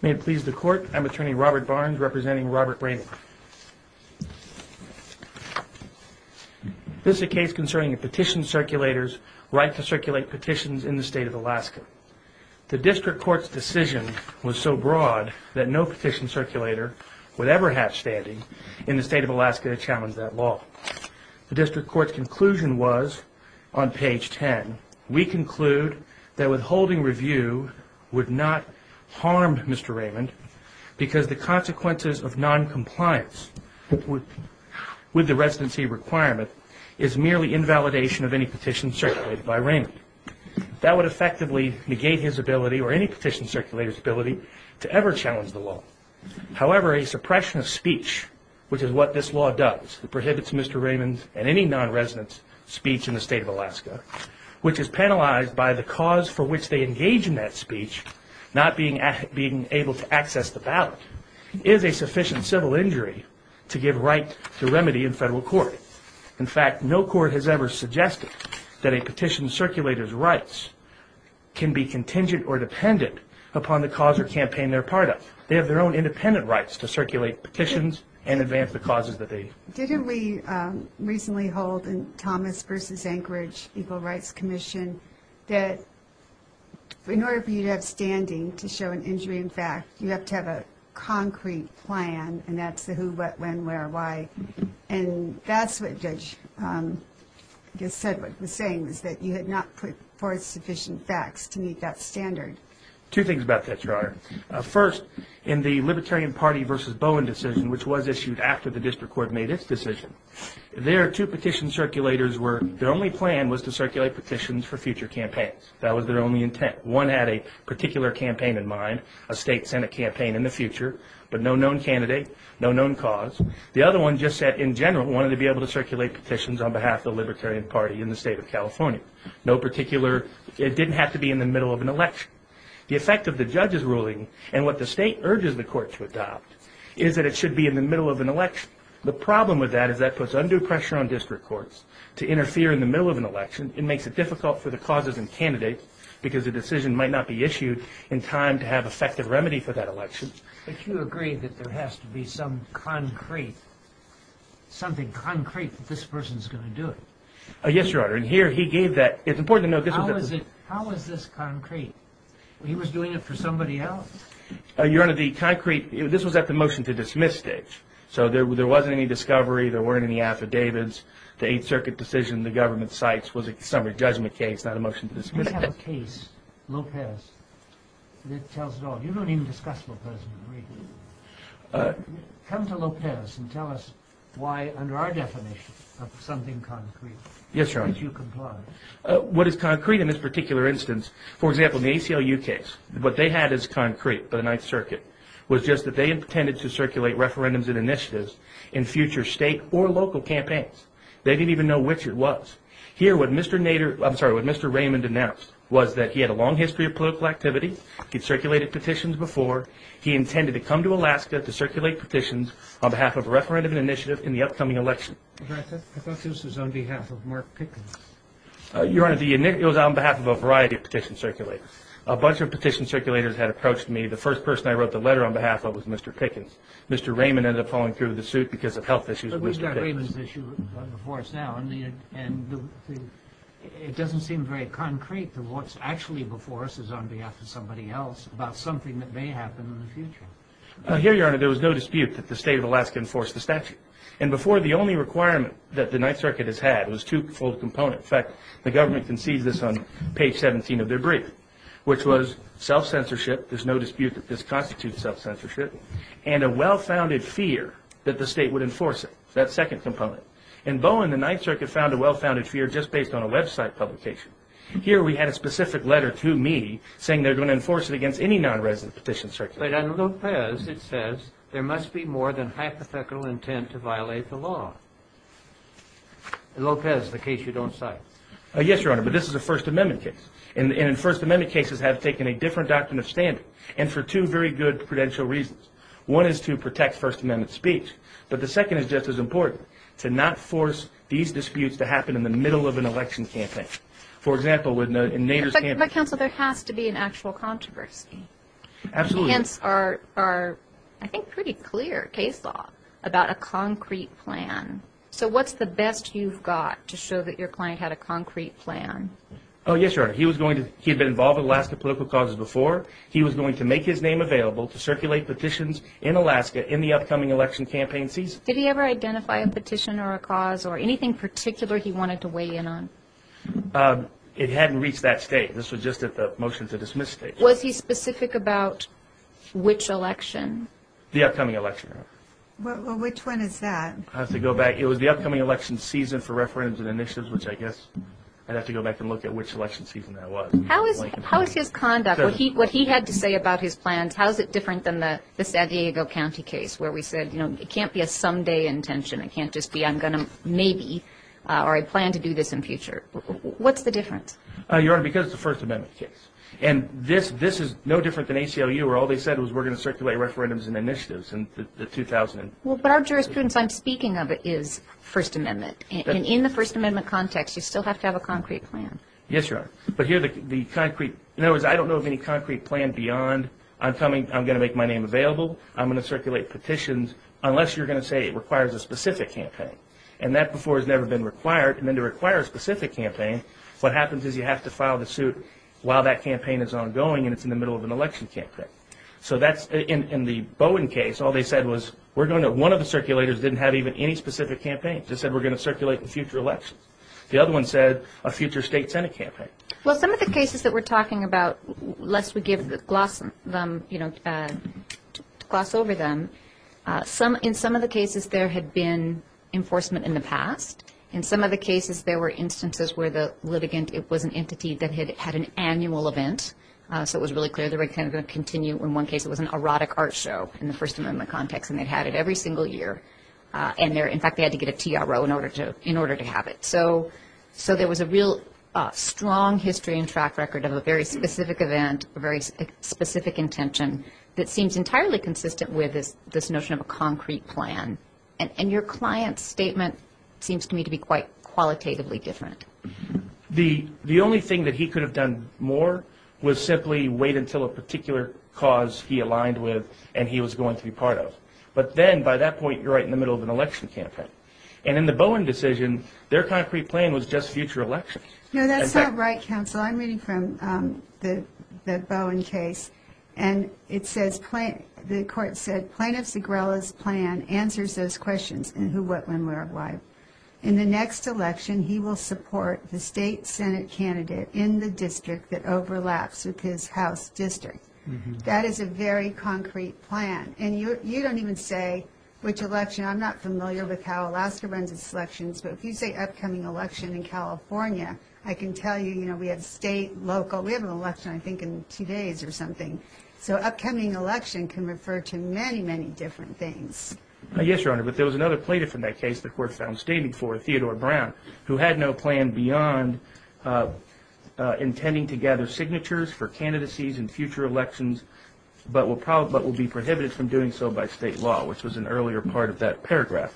May it please the court, I'm attorney Robert Barnes representing Robert Raymond. This is a case concerning a petition circulator's right to circulate petitions in the state of Alaska. The district court's decision was so broad that no petition circulator would ever have standing in the state of Alaska to challenge that law. The district court's conclusion was, on page 10, we conclude that withholding review would not harm Mr. Raymond because the consequences of noncompliance with the residency requirement is merely invalidation of any petition circulated by Raymond. That would effectively negate his ability or any petition circulator's ability to ever challenge the law. However, a suppression of speech, which is what this law does, prohibits Mr. Raymond's and any non-resident's speech in the state of Alaska, which is penalized by the cause for which they engage in that speech, not being able to access the ballot, is a sufficient civil injury to give right to remedy in federal court. In fact, no court has ever suggested that a petition circulator's rights can be contingent or dependent upon the cause or campaign they're part of. They have their own independent rights to circulate petitions and advance the causes that they... Didn't we recently hold in Thomas v. Anchorage Equal Rights Commission that in order for you to have standing to show an injury in fact, you have to have a concrete plan, and that's the who, what, when, where, why. And that's what Judge Sedgwick was saying, is that you had not put forth sufficient facts to meet that standard. Two things about that, Treyarch. First, in the Libertarian Party v. Bowen decision, which was issued after the district court made its decision, there are two petition circulators where their only plan was to circulate petitions for future campaigns. That was their only intent. One had a particular campaign in mind, a state senate campaign in the future, but no known candidate, no known cause. The other one just said, in general, wanted to be able to circulate petitions on behalf of the Libertarian Party in the state of California. No particular, it didn't have to be in the middle of an election. The effect of the judge's ruling, and what the state urges the court to adopt, is that it should be in the middle of an election. The problem with that is that puts undue pressure on district courts to interfere in the middle of an election. It makes it difficult for the causes and candidates, because a decision might not be issued in time to have effective remedy for that election. But you agree that there has to be some concrete, something concrete that this person's going to do it. Yes, Your Honor. And here he gave that. It's important to note this was a... How is this concrete? He was doing it for somebody else. Your Honor, the concrete, this was at the motion to dismiss stage. So there wasn't any discovery, there weren't any affidavits. The Eighth Circuit decision, the government cites, was a summary judgment case, not a motion to dismiss. We have a case, Lopez, that tells it all. You don't even discuss Lopez. Come to Lopez and tell us why, under our definition of something concrete... Yes, Your Honor. ...that you comply. What is concrete in this particular instance, for example, in the ACLU case, what they had as concrete by the Ninth Circuit was just that they intended to circulate referendums and initiatives in future state or local campaigns. They didn't even know which it was. Here, what Mr. Raymond announced was that he had a long history of political activity, he'd circulated petitions before, he intended to come to Alaska to circulate petitions on behalf of a referendum initiative in the upcoming election. I thought this was on behalf of Mark Pickens. Your Honor, it was on behalf of a variety of petition circulators. A bunch of petition circulators had approached me. The first person I wrote the letter on behalf of was Mr. Pickens. Mr. Raymond ended up falling through the suit because of health issues with Mr. Pickens. But we've got Raymond's issue before us now, and it doesn't seem very concrete that what's actually before us is on behalf of somebody else about something that may happen in the future. Here, Your Honor, there was no dispute that the state of Alaska enforced the statute. And before, the only requirement that the Ninth Circuit has had was twofold component. In fact, the government concedes this on page 17 of their brief, which was self-censorship, there's no dispute that this constitutes self-censorship, and a well-founded fear that the state would enforce it, that second component. In Bowen, the Ninth Circuit found a well-founded fear just based on a website publication. Here, we had a specific letter to me saying they're going to enforce it against any non-resident petition circulator. But on Lopez, it says there must be more than hypothetical intent to violate the law. Lopez, the case you don't cite. Yes, Your Honor, but this is a First Amendment case. And First Amendment cases have taken a different doctrine of standing, and for two very good prudential reasons. First, to not force these disputes to happen in the middle of an election campaign. For example, in Nader's campaign. But, counsel, there has to be an actual controversy. Absolutely. The hints are, I think, pretty clear case law about a concrete plan. So what's the best you've got to show that your client had a concrete plan? Oh, yes, Your Honor. He had been involved in Alaska political causes before. He was going to make his name available to circulate petitions in Alaska in the upcoming election campaign season. Did he ever identify a petition or a cause or anything particular he wanted to weigh in on? It hadn't reached that stage. This was just at the motion to dismiss stage. Was he specific about which election? The upcoming election. Well, which one is that? I'll have to go back. It was the upcoming election season for referendums and initiatives, which I guess I'd have to go back and look at which election season that was. How is his conduct, what he had to say about his plans, how is it different than the San Diego County case where we said, you know, it can't be a someday intention, it can't just be I'm going to maybe or I plan to do this in future. What's the difference? Your Honor, because it's a First Amendment case. And this is no different than ACLU where all they said was we're going to circulate referendums and initiatives in the 2000. Well, but our jurisprudence I'm speaking of is First Amendment. And in the First Amendment context, you still have to have a concrete plan. Yes, Your Honor. But here the concrete, in other words, I don't know of any concrete plan beyond I'm coming, I'm going to make my name available, I'm going to circulate petitions unless you're going to say it requires a specific campaign. And that before has never been required. And then to require a specific campaign, what happens is you have to file the suit while that campaign is ongoing and it's in the middle of an election campaign. So that's in the Bowen case, all they said was we're going to, one of the circulators didn't have even any specific campaigns. They said we're going to circulate in future elections. The other one said a future state senate campaign. Well, some of the cases that we're talking about, lest we gloss over them, in some of the cases there had been enforcement in the past. In some of the cases there were instances where the litigant was an entity that had had an annual event. So it was really clear they were going to continue. In one case it was an erotic art show in the First Amendment context, and they had it every single year. In fact, they had to get a TRO in order to have it. So there was a real strong history and track record of a very specific event, a very specific intention that seems entirely consistent with this notion of a concrete plan. And your client's statement seems to me to be quite qualitatively different. The only thing that he could have done more was simply wait until a particular cause he aligned with and he was going to be part of. But then by that point you're right in the middle of an election campaign. And in the Bowen decision, their concrete plan was just future elections. No, that's not right, counsel. I'm reading from the Bowen case, and the court said, Plaintiff Zegrella's plan answers those questions in who, what, when, where, why. In the next election he will support the state senate candidate in the district that overlaps with his house district. That is a very concrete plan. And you don't even say which election. I'm not familiar with how Alaska runs its elections. But if you say upcoming election in California, I can tell you, you know, we have state, local. We have an election, I think, in two days or something. So upcoming election can refer to many, many different things. Yes, Your Honor, but there was another plaintiff in that case the court found standing for, Theodore Brown, who had no plan beyond intending to gather signatures for candidacies in future elections but will be prohibited from doing so by state law, which was an earlier part of that paragraph.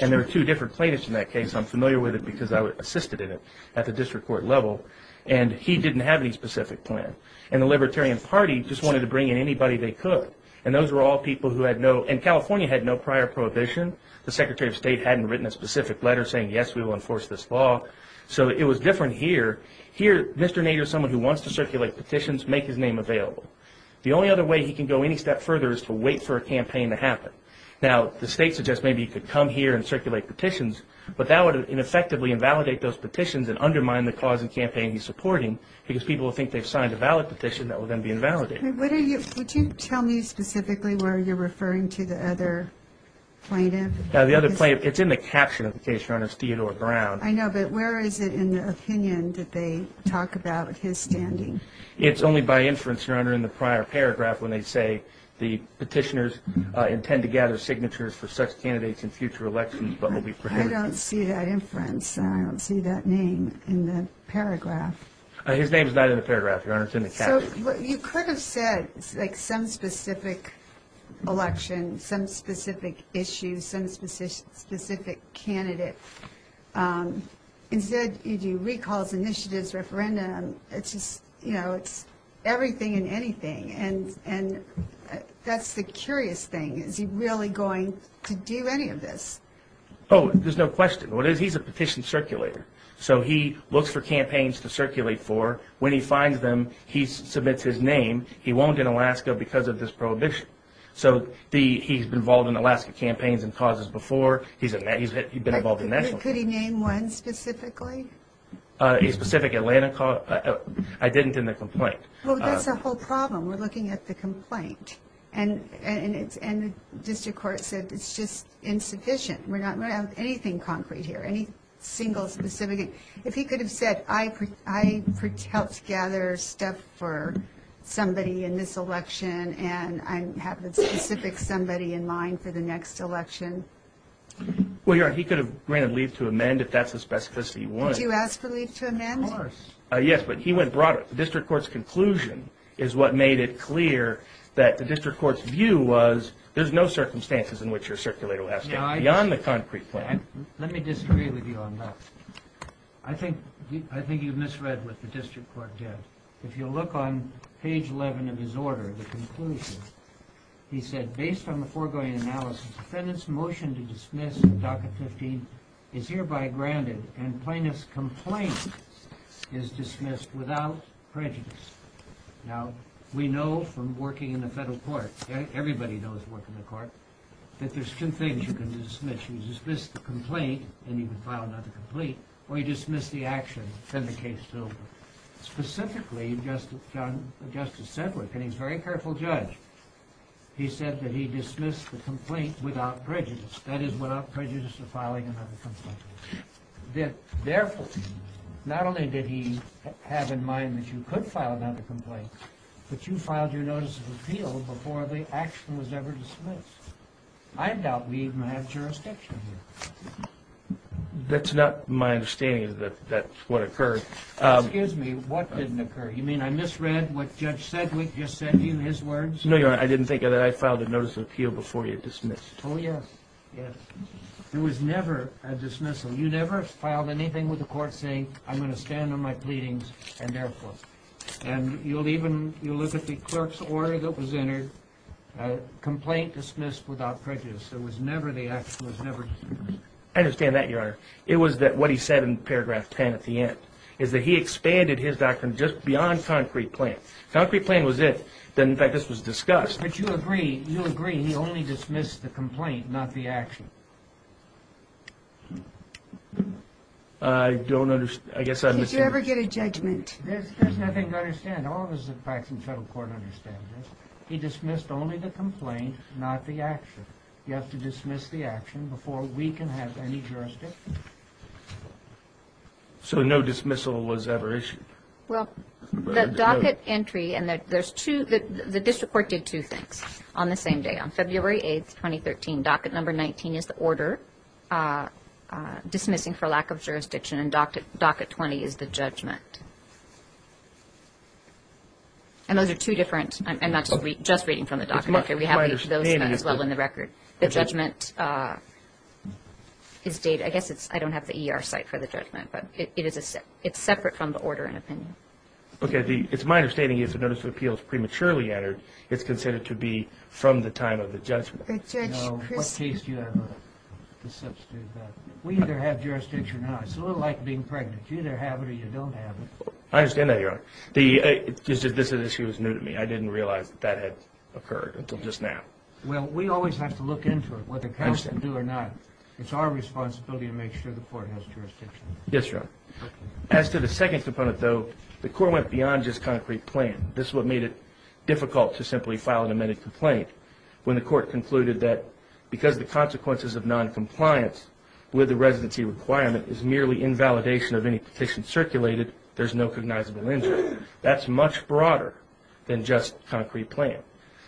And there were two different plaintiffs in that case. I'm familiar with it because I assisted in it at the district court level. And he didn't have any specific plan. And the Libertarian Party just wanted to bring in anybody they could. And those were all people who had no, and California had no prior prohibition. The Secretary of State hadn't written a specific letter saying, yes, we will enforce this law. So it was different here. Here, Mr. Nader is someone who wants to circulate petitions, make his name available. The only other way he can go any step further is to wait for a campaign to happen. Now, the state suggests maybe he could come here and circulate petitions, but that would ineffectively invalidate those petitions and undermine the cause and campaign he's supporting because people will think they've signed a valid petition that will then be invalidated. Would you tell me specifically where you're referring to the other plaintiff? The other plaintiff, it's in the caption of the case, Your Honor, is Theodore Brown. I know, but where is it in the opinion that they talk about his standing? It's only by inference, Your Honor, in the prior paragraph when they say, the petitioners intend to gather signatures for such candidates in future elections but will be prohibited. I don't see that inference. I don't see that name in the paragraph. His name is not in the paragraph, Your Honor. It's in the caption. So you could have said, like, some specific election, some specific issue, some specific candidate. Instead, you do recalls, initiatives, referendum. It's just, you know, it's everything and anything. And that's the curious thing. Is he really going to do any of this? Oh, there's no question. He's a petition circulator. So he looks for campaigns to circulate for. When he finds them, he submits his name. He won't in Alaska because of this prohibition. So he's been involved in Alaska campaigns and causes before. Could he name one specifically? A specific Atlanta call? I didn't in the complaint. Well, that's the whole problem. We're looking at the complaint. And the district court said it's just insufficient. We're not going to have anything concrete here, any single specific. If he could have said, I helped gather stuff for somebody in this election and I have a specific somebody in mind for the next election. Well, he could have ran a leave to amend if that's the specificity he wanted. Did you ask for leave to amend? Of course. Yes, but he went broader. The district court's conclusion is what made it clear that the district court's view was there's no circumstances in which your circulator will have to go beyond the concrete plan. Let me disagree with you on that. I think you've misread what the district court did. If you look on page 11 of his order, the conclusion, he said, based on the foregoing analysis, defendant's motion to dismiss DACA 15 is hereby granted and plaintiff's complaint is dismissed without prejudice. Now, we know from working in the federal court, everybody knows working in the court, that there's two things you can dismiss. You dismiss the complaint and you can file another complaint, or you dismiss the action and the case is over. Specifically, Justice Sedgwick, and he's a very careful judge, he said that he dismissed the complaint without prejudice. That is, without prejudice of filing another complaint. Therefore, not only did he have in mind that you could file another complaint, but you filed your notice of appeal before the action was ever dismissed. I doubt we even have jurisdiction here. That's not my understanding that that's what occurred. Excuse me, what didn't occur? You mean I misread what Judge Sedgwick just said to you, his words? No, Your Honor, I didn't think of that. I filed a notice of appeal before you dismissed. Oh, yes, yes. There was never a dismissal. You never filed anything with the court saying, I'm going to stand on my pleadings and therefore. And you'll even, you'll look at the clerk's order that was entered, complaint dismissed without prejudice. There was never the action, there was never a dismissal. I understand that, Your Honor. It was that what he said in paragraph 10 at the end, is that he expanded his doctrine just beyond concrete plan. If concrete plan was it, then, in fact, this was discussed. But you agree, you agree he only dismissed the complaint, not the action. I don't understand, I guess I'm mistaken. Did you ever get a judgment? There's nothing to understand. All of us at Faxon Federal Court understand this. He dismissed only the complaint, not the action. You have to dismiss the action before we can have any jurisdiction. So no dismissal was ever issued? Well, the docket entry and there's two, the district court did two things on the same day. On February 8, 2013, docket number 19 is the order dismissing for lack of jurisdiction and docket 20 is the judgment. And those are two different, I'm not just reading from the docket. Okay, we have those as well in the record. The judgment is dated, I guess it's, I don't have the ER site for the judgment, but it's separate from the order and opinion. Okay, it's my understanding if a notice of appeal is prematurely entered, it's considered to be from the time of the judgment. No, what case do you have to substitute that? We either have jurisdiction or not. It's a little like being pregnant. You either have it or you don't have it. I understand that, Your Honor. This issue is new to me. I didn't realize that that had occurred until just now. Well, we always have to look into it, whether counsel can do it or not. It's our responsibility to make sure the court has jurisdiction. Yes, Your Honor. As to the second component, though, the court went beyond just concrete plan. This is what made it difficult to simply file an amended complaint when the court concluded that because the consequences of noncompliance with the residency requirement is merely invalidation of any petition circulated, there's no cognizable injury. That's much broader than just concrete plan.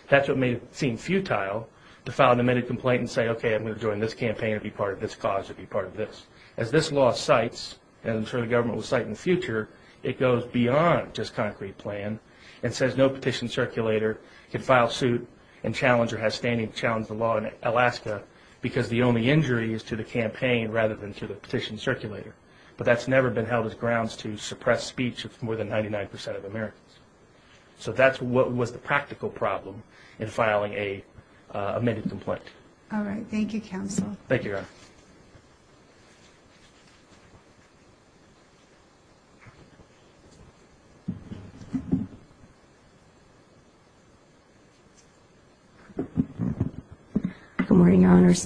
That's what made it seem futile to file an amended complaint and say, okay, I'm going to join this campaign. I'll be part of this cause. I'll be part of this. As this law cites, and I'm sure the government will cite in the future, it goes beyond just concrete plan and says no petition circulator can file suit and challenge or has standing to challenge the law in Alaska because the only injury is to the campaign rather than to the petition circulator. But that's never been held as grounds to suppress speech of more than 99% of Americans. So that's what was the practical problem in filing an amended complaint. All right. Thank you, counsel. Thank you, Your Honor.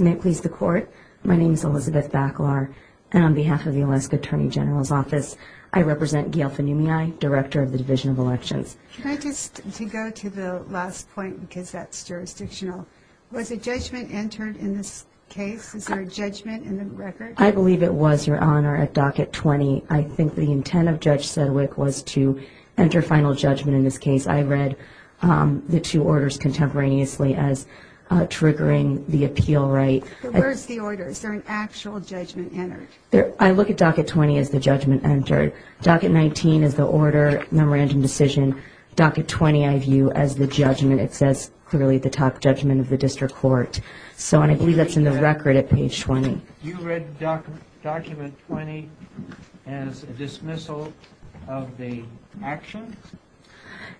May it please the Court. My name is Elizabeth Baclar, and on behalf of the Alaska Attorney General's Office, I represent Gail Fanumiai, Director of the Division of Elections. Can I just go to the last point because that's jurisdictional. Was a judgment entered in this case? Is there a judgment in the record? I believe it was, Your Honor, at Docket 20. I think the intent of Judge Sedgwick was to enter final judgment in this case. I read the two orders contemporaneously as triggering the appeal right. Where is the order? Is there an actual judgment entered? I look at Docket 20 as the judgment entered. Docket 19 is the order, memorandum decision. Docket 20, I view as the judgment. It says clearly the top judgment of the district court. So I believe that's in the record at page 20. You read Document 20 as a dismissal of the action?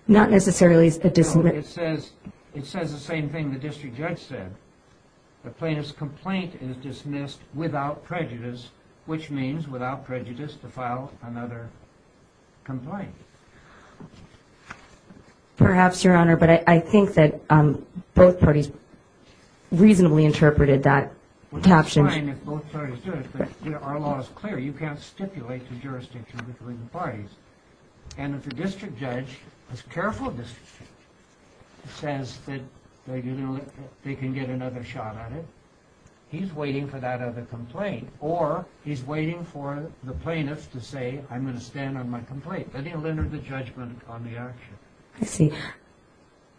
Not necessarily a dismissal. It says the same thing the district judge said. The plaintiff's complaint is dismissed without prejudice, which means without prejudice to file another complaint. Perhaps, Your Honor, but I think that both parties reasonably interpreted that caption. It's fine if both parties do it, but our law is clear. You can't stipulate the jurisdiction between the parties. And if a district judge, a careful district judge, says that they can get another shot at it, he's waiting for that other complaint, or he's waiting for the plaintiff to say, I'm going to stand on my complaint. Then he'll enter the judgment on the action. I see.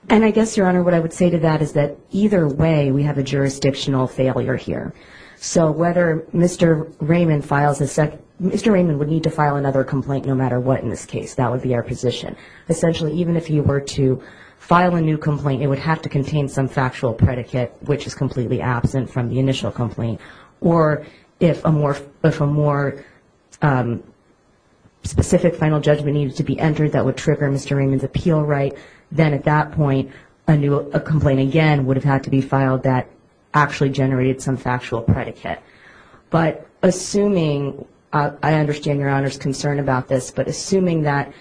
And I guess, Your Honor, what I would say to that is that either way we have a jurisdictional failure here. So whether Mr. Raymond files a second, Mr. Raymond would need to file another complaint no matter what in this case. That would be our position. Essentially, even if he were to file a new complaint, it would have to contain some factual predicate, which is completely absent from the initial complaint. Or if a more specific final judgment needed to be entered that would trigger Mr. Raymond's appeal right, then at that point a complaint again would have had to be filed that actually generated some factual predicate. But assuming, I understand Your Honor's concern about this, but assuming that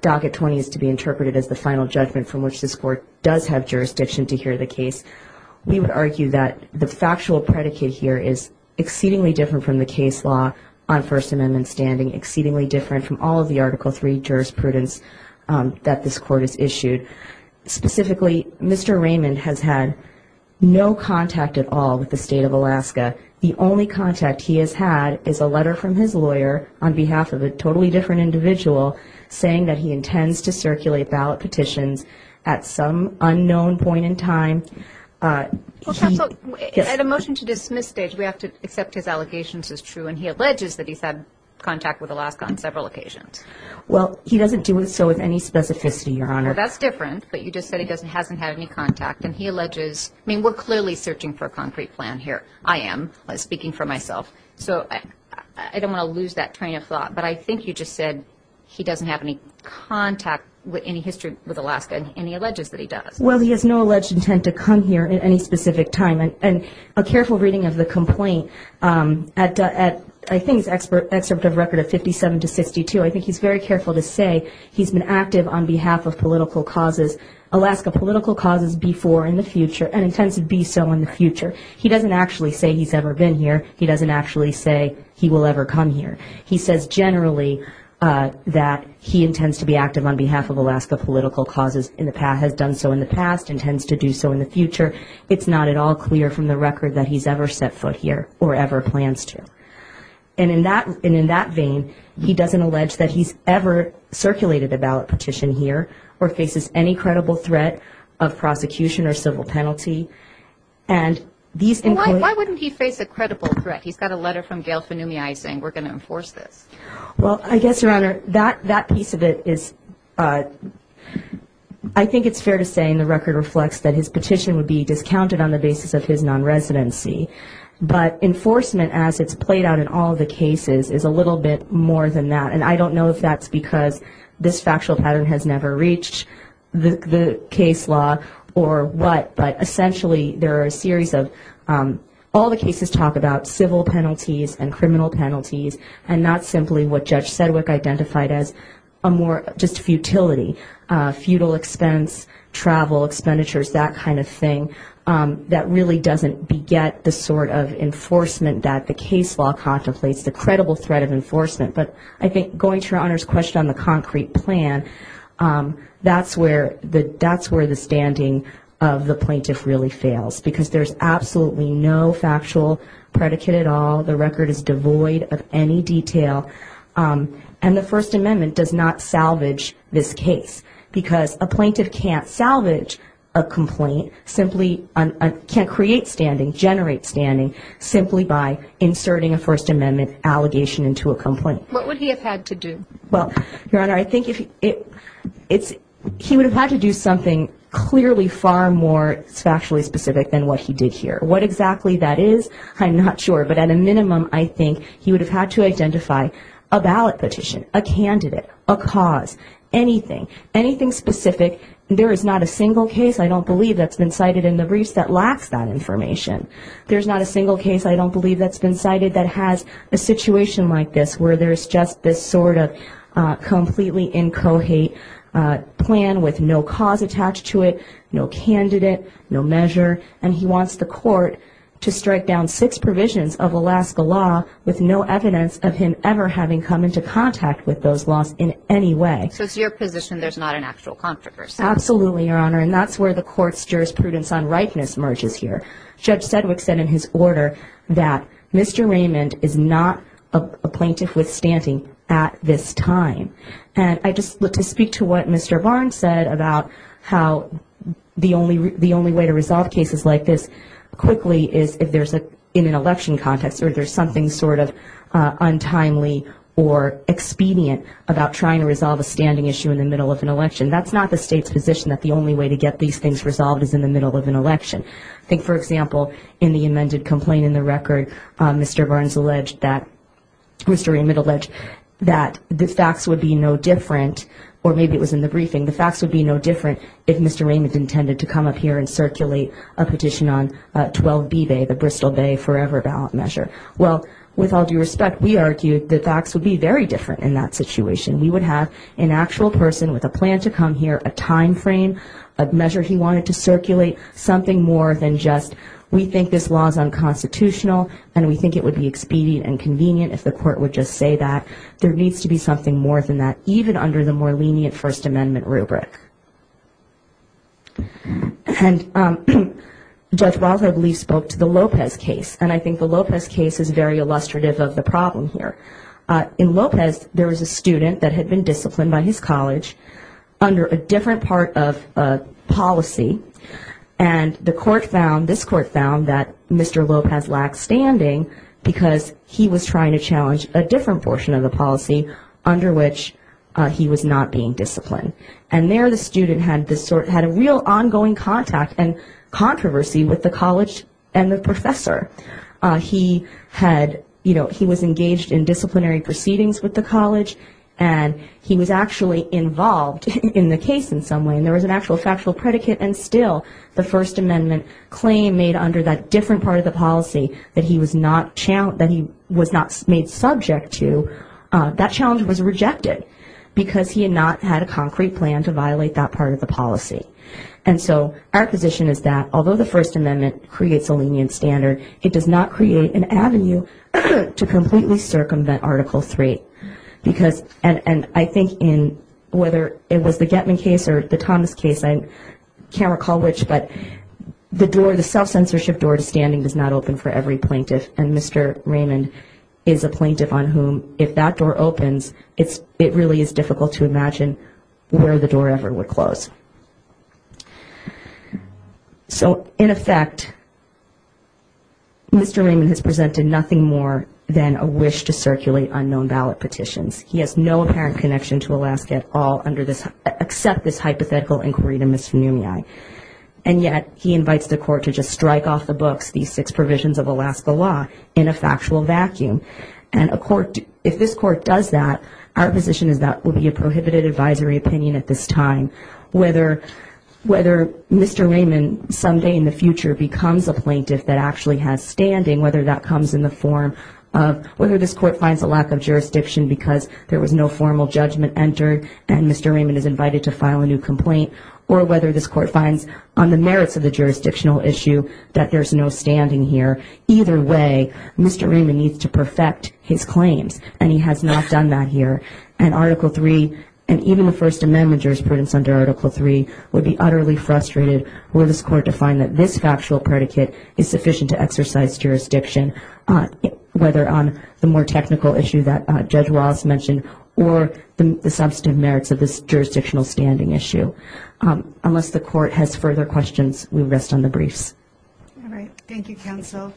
Docket 20 is to be interpreted as the final judgment from which this court does have jurisdiction to hear the case, we would argue that the factual predicate here is exceedingly different from the case law on First Amendment standing, exceedingly different from all of the Article III jurisprudence that this court has issued. Specifically, Mr. Raymond has had no contact at all with the State of Alaska. The only contact he has had is a letter from his lawyer on behalf of a totally different individual saying that he intends to circulate ballot petitions at some unknown point in time. Counsel, at a motion to dismiss stage, we have to accept his allegations as true, and he alleges that he's had contact with Alaska on several occasions. Well, he doesn't do so with any specificity, Your Honor. Well, that's different, but you just said he hasn't had any contact. And he alleges, I mean, we're clearly searching for a concrete plan here. I am, speaking for myself. So I don't want to lose that train of thought. But I think you just said he doesn't have any contact with any history with Alaska, and he alleges that he does. Well, he has no alleged intent to come here at any specific time. And a careful reading of the complaint, I think it's an excerpt of record of 57 to 62, I think he's very careful to say he's been active on behalf of political causes, Alaska political causes before and in the future, and intends to be so in the future. He doesn't actually say he's ever been here. He doesn't actually say he will ever come here. He says generally that he intends to be active on behalf of Alaska political causes, has done so in the past, intends to do so in the future. It's not at all clear from the record that he's ever set foot here or ever plans to. And in that vein, he doesn't allege that he's ever circulated a ballot petition here or faces any credible threat of prosecution or civil penalty. And these include – Why wouldn't he face a credible threat? He's got a letter from Gail Fanumiai saying we're going to enforce this. Well, I guess, Your Honor, that piece of it is – I think it's fair to say, in the record reflects that his petition would be discounted on the basis of his non-residency. But enforcement, as it's played out in all the cases, is a little bit more than that. And I don't know if that's because this factual pattern has never reached the case law or what, but essentially there are a series of – all the cases talk about civil penalties and criminal penalties and not simply what Judge Sedgwick identified as a more – it's just futility, futile expense, travel, expenditures, that kind of thing. That really doesn't beget the sort of enforcement that the case law contemplates, the credible threat of enforcement. But I think going to Your Honor's question on the concrete plan, that's where the standing of the plaintiff really fails, because there's absolutely no factual predicate at all. The record is devoid of any detail. And the First Amendment does not salvage this case, because a plaintiff can't salvage a complaint, simply can't create standing, generate standing, simply by inserting a First Amendment allegation into a complaint. What would he have had to do? Well, Your Honor, I think he would have had to do something clearly far more factually specific than what he did here. What exactly that is, I'm not sure. But at a minimum, I think he would have had to identify a ballot petition, a candidate, a cause, anything, anything specific. There is not a single case, I don't believe, that's been cited in the briefs that lacks that information. There's not a single case, I don't believe, that's been cited that has a situation like this, where there's just this sort of completely inchoate plan with no cause attached to it, no candidate, no measure. And he wants the court to strike down six provisions of Alaska law with no evidence of him ever having come into contact with those laws in any way. So it's your position there's not an actual conflict of interest? Absolutely, Your Honor. And that's where the court's jurisprudence on rightness merges here. Judge Sedgwick said in his order that Mr. Raymond is not a plaintiff with standing at this time. And I just look to speak to what Mr. Barnes said about how the only way to resolve cases like this quickly is if there's in an election context or there's something sort of untimely or expedient about trying to resolve a standing issue in the middle of an election. That's not the state's position that the only way to get these things resolved is in the middle of an election. I think, for example, in the amended complaint in the record, Mr. Barnes alleged that, Mr. Raymond alleged that the facts would be no different, or maybe it was in the briefing, the facts would be no different if Mr. Raymond intended to come up here and circulate a petition on 12B Bay, the Bristol Bay forever ballot measure. Well, with all due respect, we argued the facts would be very different in that situation. We would have an actual person with a plan to come here, a time frame, a measure he wanted to circulate, something more than just we think this law is unconstitutional and we think it would be expedient and convenient if the court would just say that. There needs to be something more than that, even under the more lenient First Amendment rubric. And Judge Roth, I believe, spoke to the Lopez case, and I think the Lopez case is very illustrative of the problem here. In Lopez, there was a student that had been disciplined by his college under a different part of policy, and the court found, this court found, that Mr. Lopez lacked standing because he was trying to challenge a different portion of the policy under which he was not being disciplined. And there the student had a real ongoing contact and controversy with the college and the professor. He was engaged in disciplinary proceedings with the college, and he was actually involved in the case in some way, and there was an actual factual predicate, and still the First Amendment claim made under that different part of the policy that he was not made subject to, that challenge was rejected because he had not had a concrete plan to violate that part of the policy. And so our position is that although the First Amendment creates a lenient standard, it does not create an avenue to completely circumvent Article 3. And I think whether it was the Getman case or the Thomas case, I can't recall which, but the self-censorship door to standing does not open for every plaintiff, and Mr. Raymond is a plaintiff on whom, if that door opens, it really is difficult to imagine where the door ever would close. So in effect, Mr. Raymond has presented nothing more than a wish to circulate unknown ballot petitions. He has no apparent connection to Alaska at all, except this hypothetical inquiry to Ms. Funumiay. And yet he invites the court to just strike off the books, these six provisions of Alaska law, in a factual vacuum. And if this court does that, our position is that will be a prohibited advisory opinion at this time, whether Mr. Raymond someday in the future becomes a plaintiff that actually has standing, whether that comes in the form of whether this court finds a lack of jurisdiction because there was no formal judgment entered and Mr. Raymond is invited to file a new complaint, or whether this court finds on the merits of the jurisdictional issue that there's no standing here. Either way, Mr. Raymond needs to perfect his claims, and he has not done that here. And Article 3, and even the First Amendment jurisprudence under Article 3, would be utterly frustrated were this court to find that this factual predicate is sufficient to exercise jurisdiction, whether on the more technical issue that Judge Ross mentioned, or the substantive merits of this jurisdictional standing issue. Unless the court has further questions, we rest on the briefs. All right. Thank you, counsel.